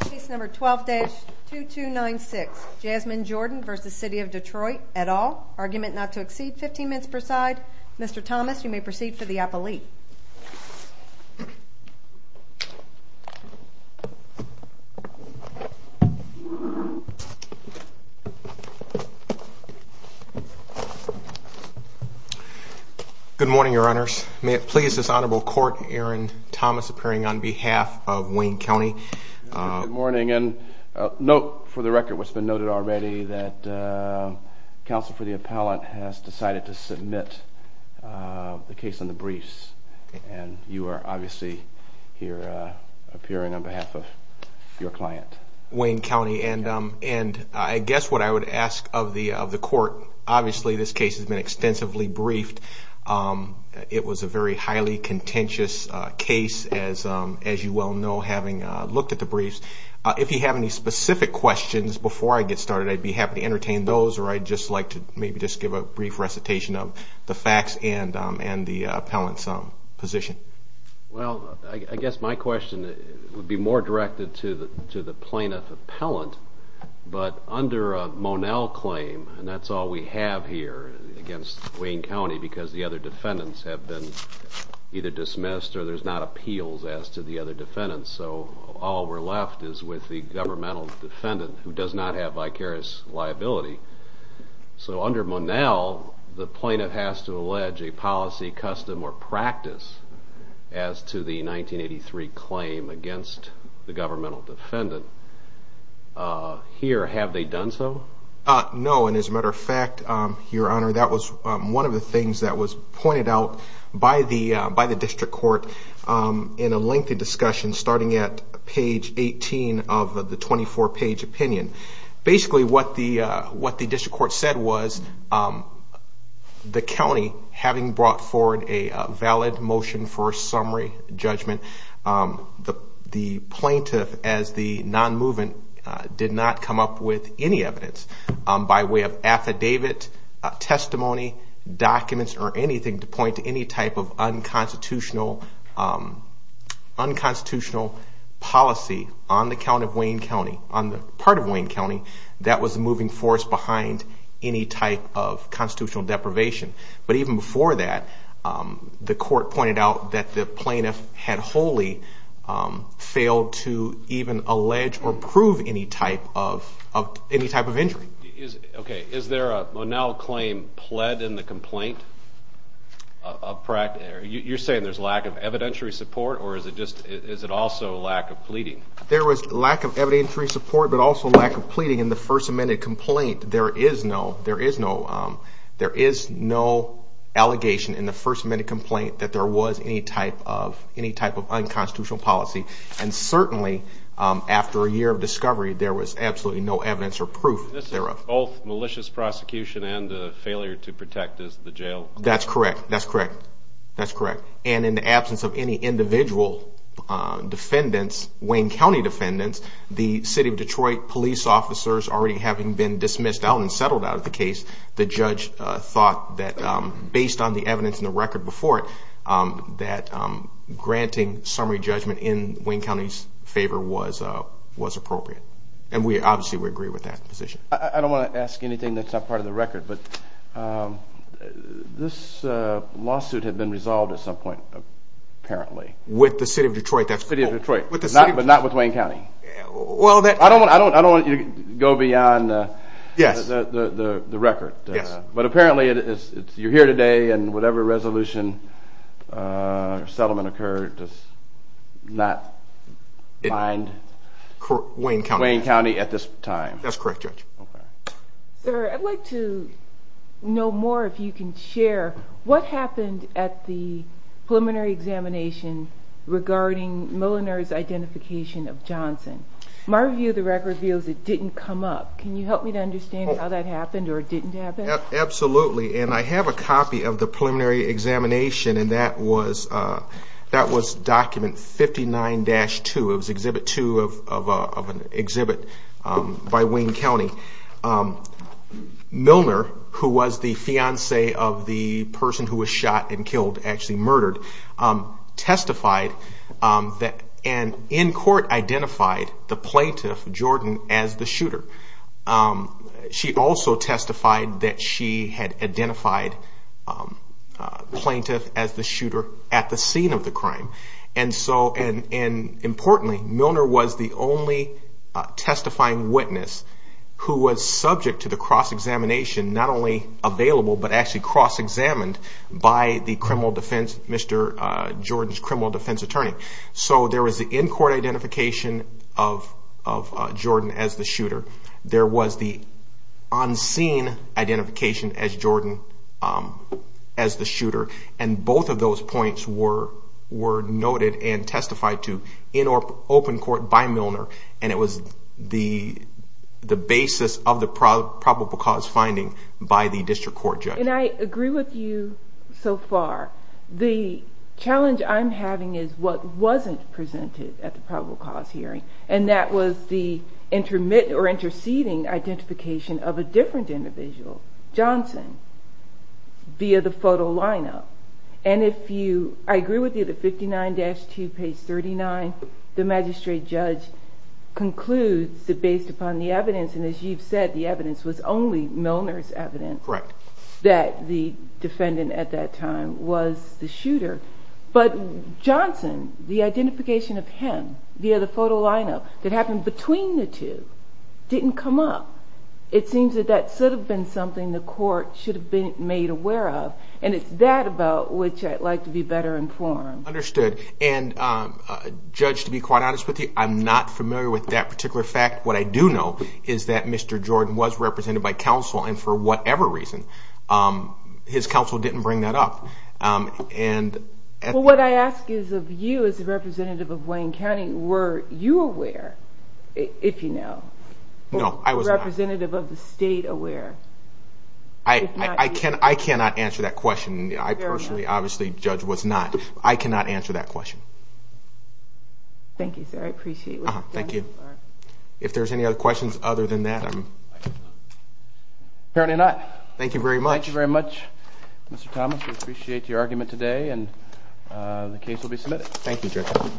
Case number 12-2296, Jasmine Jordan v. City of Detroit, et al. Argument not to exceed 15 minutes per side. Mr. Thomas, you may proceed for the appellee. Good morning, Your Honors. May it please this Honorable Court, Aaron Thomas appearing on behalf of Wayne County. Good morning, and note for the record what's been noted already that counsel for the appellant has decided to submit the case on the briefs, and you are obviously here appearing on behalf of your client. And I guess what I would ask of the court, obviously this case has been extensively briefed. It was a very highly contentious case, as you well know, having looked at the briefs. If you have any specific questions before I get started, I'd be happy to entertain those, or I'd just like to maybe just give a brief recitation of the facts and the appellant's position. Well, I guess my question would be more directed to the plaintiff appellant, but under a Monell claim, and that's all we have here against Wayne County because the other defendants have been either dismissed or there's not appeals as to the other defendants, so all we're left is with the governmental defendant who does not have vicarious liability. So under Monell, the plaintiff has to allege a policy, custom, or practice as to the 1983 claim against the governmental defendant. Here, have they done so? No, and as a matter of fact, Your Honor, that was one of the things that was pointed out by the district court in a lengthy discussion starting at page 18 of the 24-page opinion. Basically, what the district court said was the county, having brought forward a valid motion for a summary judgment, the plaintiff, as the non-movement, did not come up with any evidence by way of affidavit, testimony, documents, or anything to point to any type of unconstitutional policy on the part of Wayne County. That was the moving force behind any type of constitutional deprivation. But even before that, the court pointed out that the plaintiff had wholly failed to even allege or prove any type of injury. Is there a Monell claim pled in the complaint? You're saying there's lack of evidentiary support, or is it also lack of pleading? There was lack of evidentiary support, but also lack of pleading in the First Amendment complaint. There is no allegation in the First Amendment complaint that there was any type of unconstitutional policy. And certainly, after a year of discovery, there was absolutely no evidence or proof thereof. This is both malicious prosecution and a failure to protect the jail? That's correct. That's correct. That's correct. And in the absence of any individual defendants, Wayne County defendants, the City of Detroit police officers, already having been dismissed out and settled out of the case, the judge thought that, based on the evidence in the record before it, that granting summary judgment in Wayne County's favor was appropriate. And obviously, we agree with that position. I don't want to ask anything that's not part of the record, but this lawsuit had been resolved at some point, apparently. With the City of Detroit? The City of Detroit, but not with Wayne County. I don't want you to go beyond the record. But apparently, you're here today, and whatever resolution or settlement occurred does not bind Wayne County at this time? That's correct, Judge. Sir, I'd like to know more, if you can share, what happened at the preliminary examination regarding Milner's identification of Johnson? My view of the record reveals it didn't come up. Can you help me to understand how that happened, or it didn't happen? Absolutely, and I have a copy of the preliminary examination, and that was document 59-2. It was exhibit 2 of an exhibit by Wayne County. Milner, who was the fiancé of the person who was shot and killed, actually murdered, testified, and in court, identified the plaintiff, Jordan, as the shooter. She also testified that she had identified the plaintiff as the shooter at the scene of the crime. Importantly, Milner was the only testifying witness who was subject to the cross-examination, not only available, but actually cross-examined by the criminal defense, Mr. Jordan's criminal defense attorney. So there was the in-court identification of Jordan as the shooter. There was the on-scene identification of Jordan as the shooter. And both of those points were noted and testified to in open court by Milner, and it was the basis of the probable cause finding by the district court judge. And I agree with you so far. The challenge I'm having is what wasn't presented at the probable cause hearing, and that was the intermittent or interceding identification of a different individual, Johnson, via the photo lineup. And if you, I agree with you that 59-2, page 39, the magistrate judge concludes that based upon the evidence, and as you've said, the evidence was only Milner's evidence, that the defendant at that time was the shooter. But Johnson, the identification of him via the photo lineup that happened between the two didn't come up. It seems that that should have been something the court should have been made aware of, and it's that about which I'd like to be better informed. Understood. And, Judge, to be quite honest with you, I'm not familiar with that particular fact. What I do know is that Mr. Jordan was represented by counsel, and for whatever reason, his counsel didn't bring that up. Well, what I ask is of you, as a representative of Wayne County, were you aware, if you know? No, I was not. A representative of the state aware? I cannot answer that question. I personally, obviously, Judge, was not. I cannot answer that question. Thank you, sir. I appreciate what you've done. Thank you. If there's any other questions other than that, I'm... Apparently not. Thank you very much. Thank you very much, Mr. Thomas. We appreciate your argument today, and the case will be submitted. Thank you, Judge.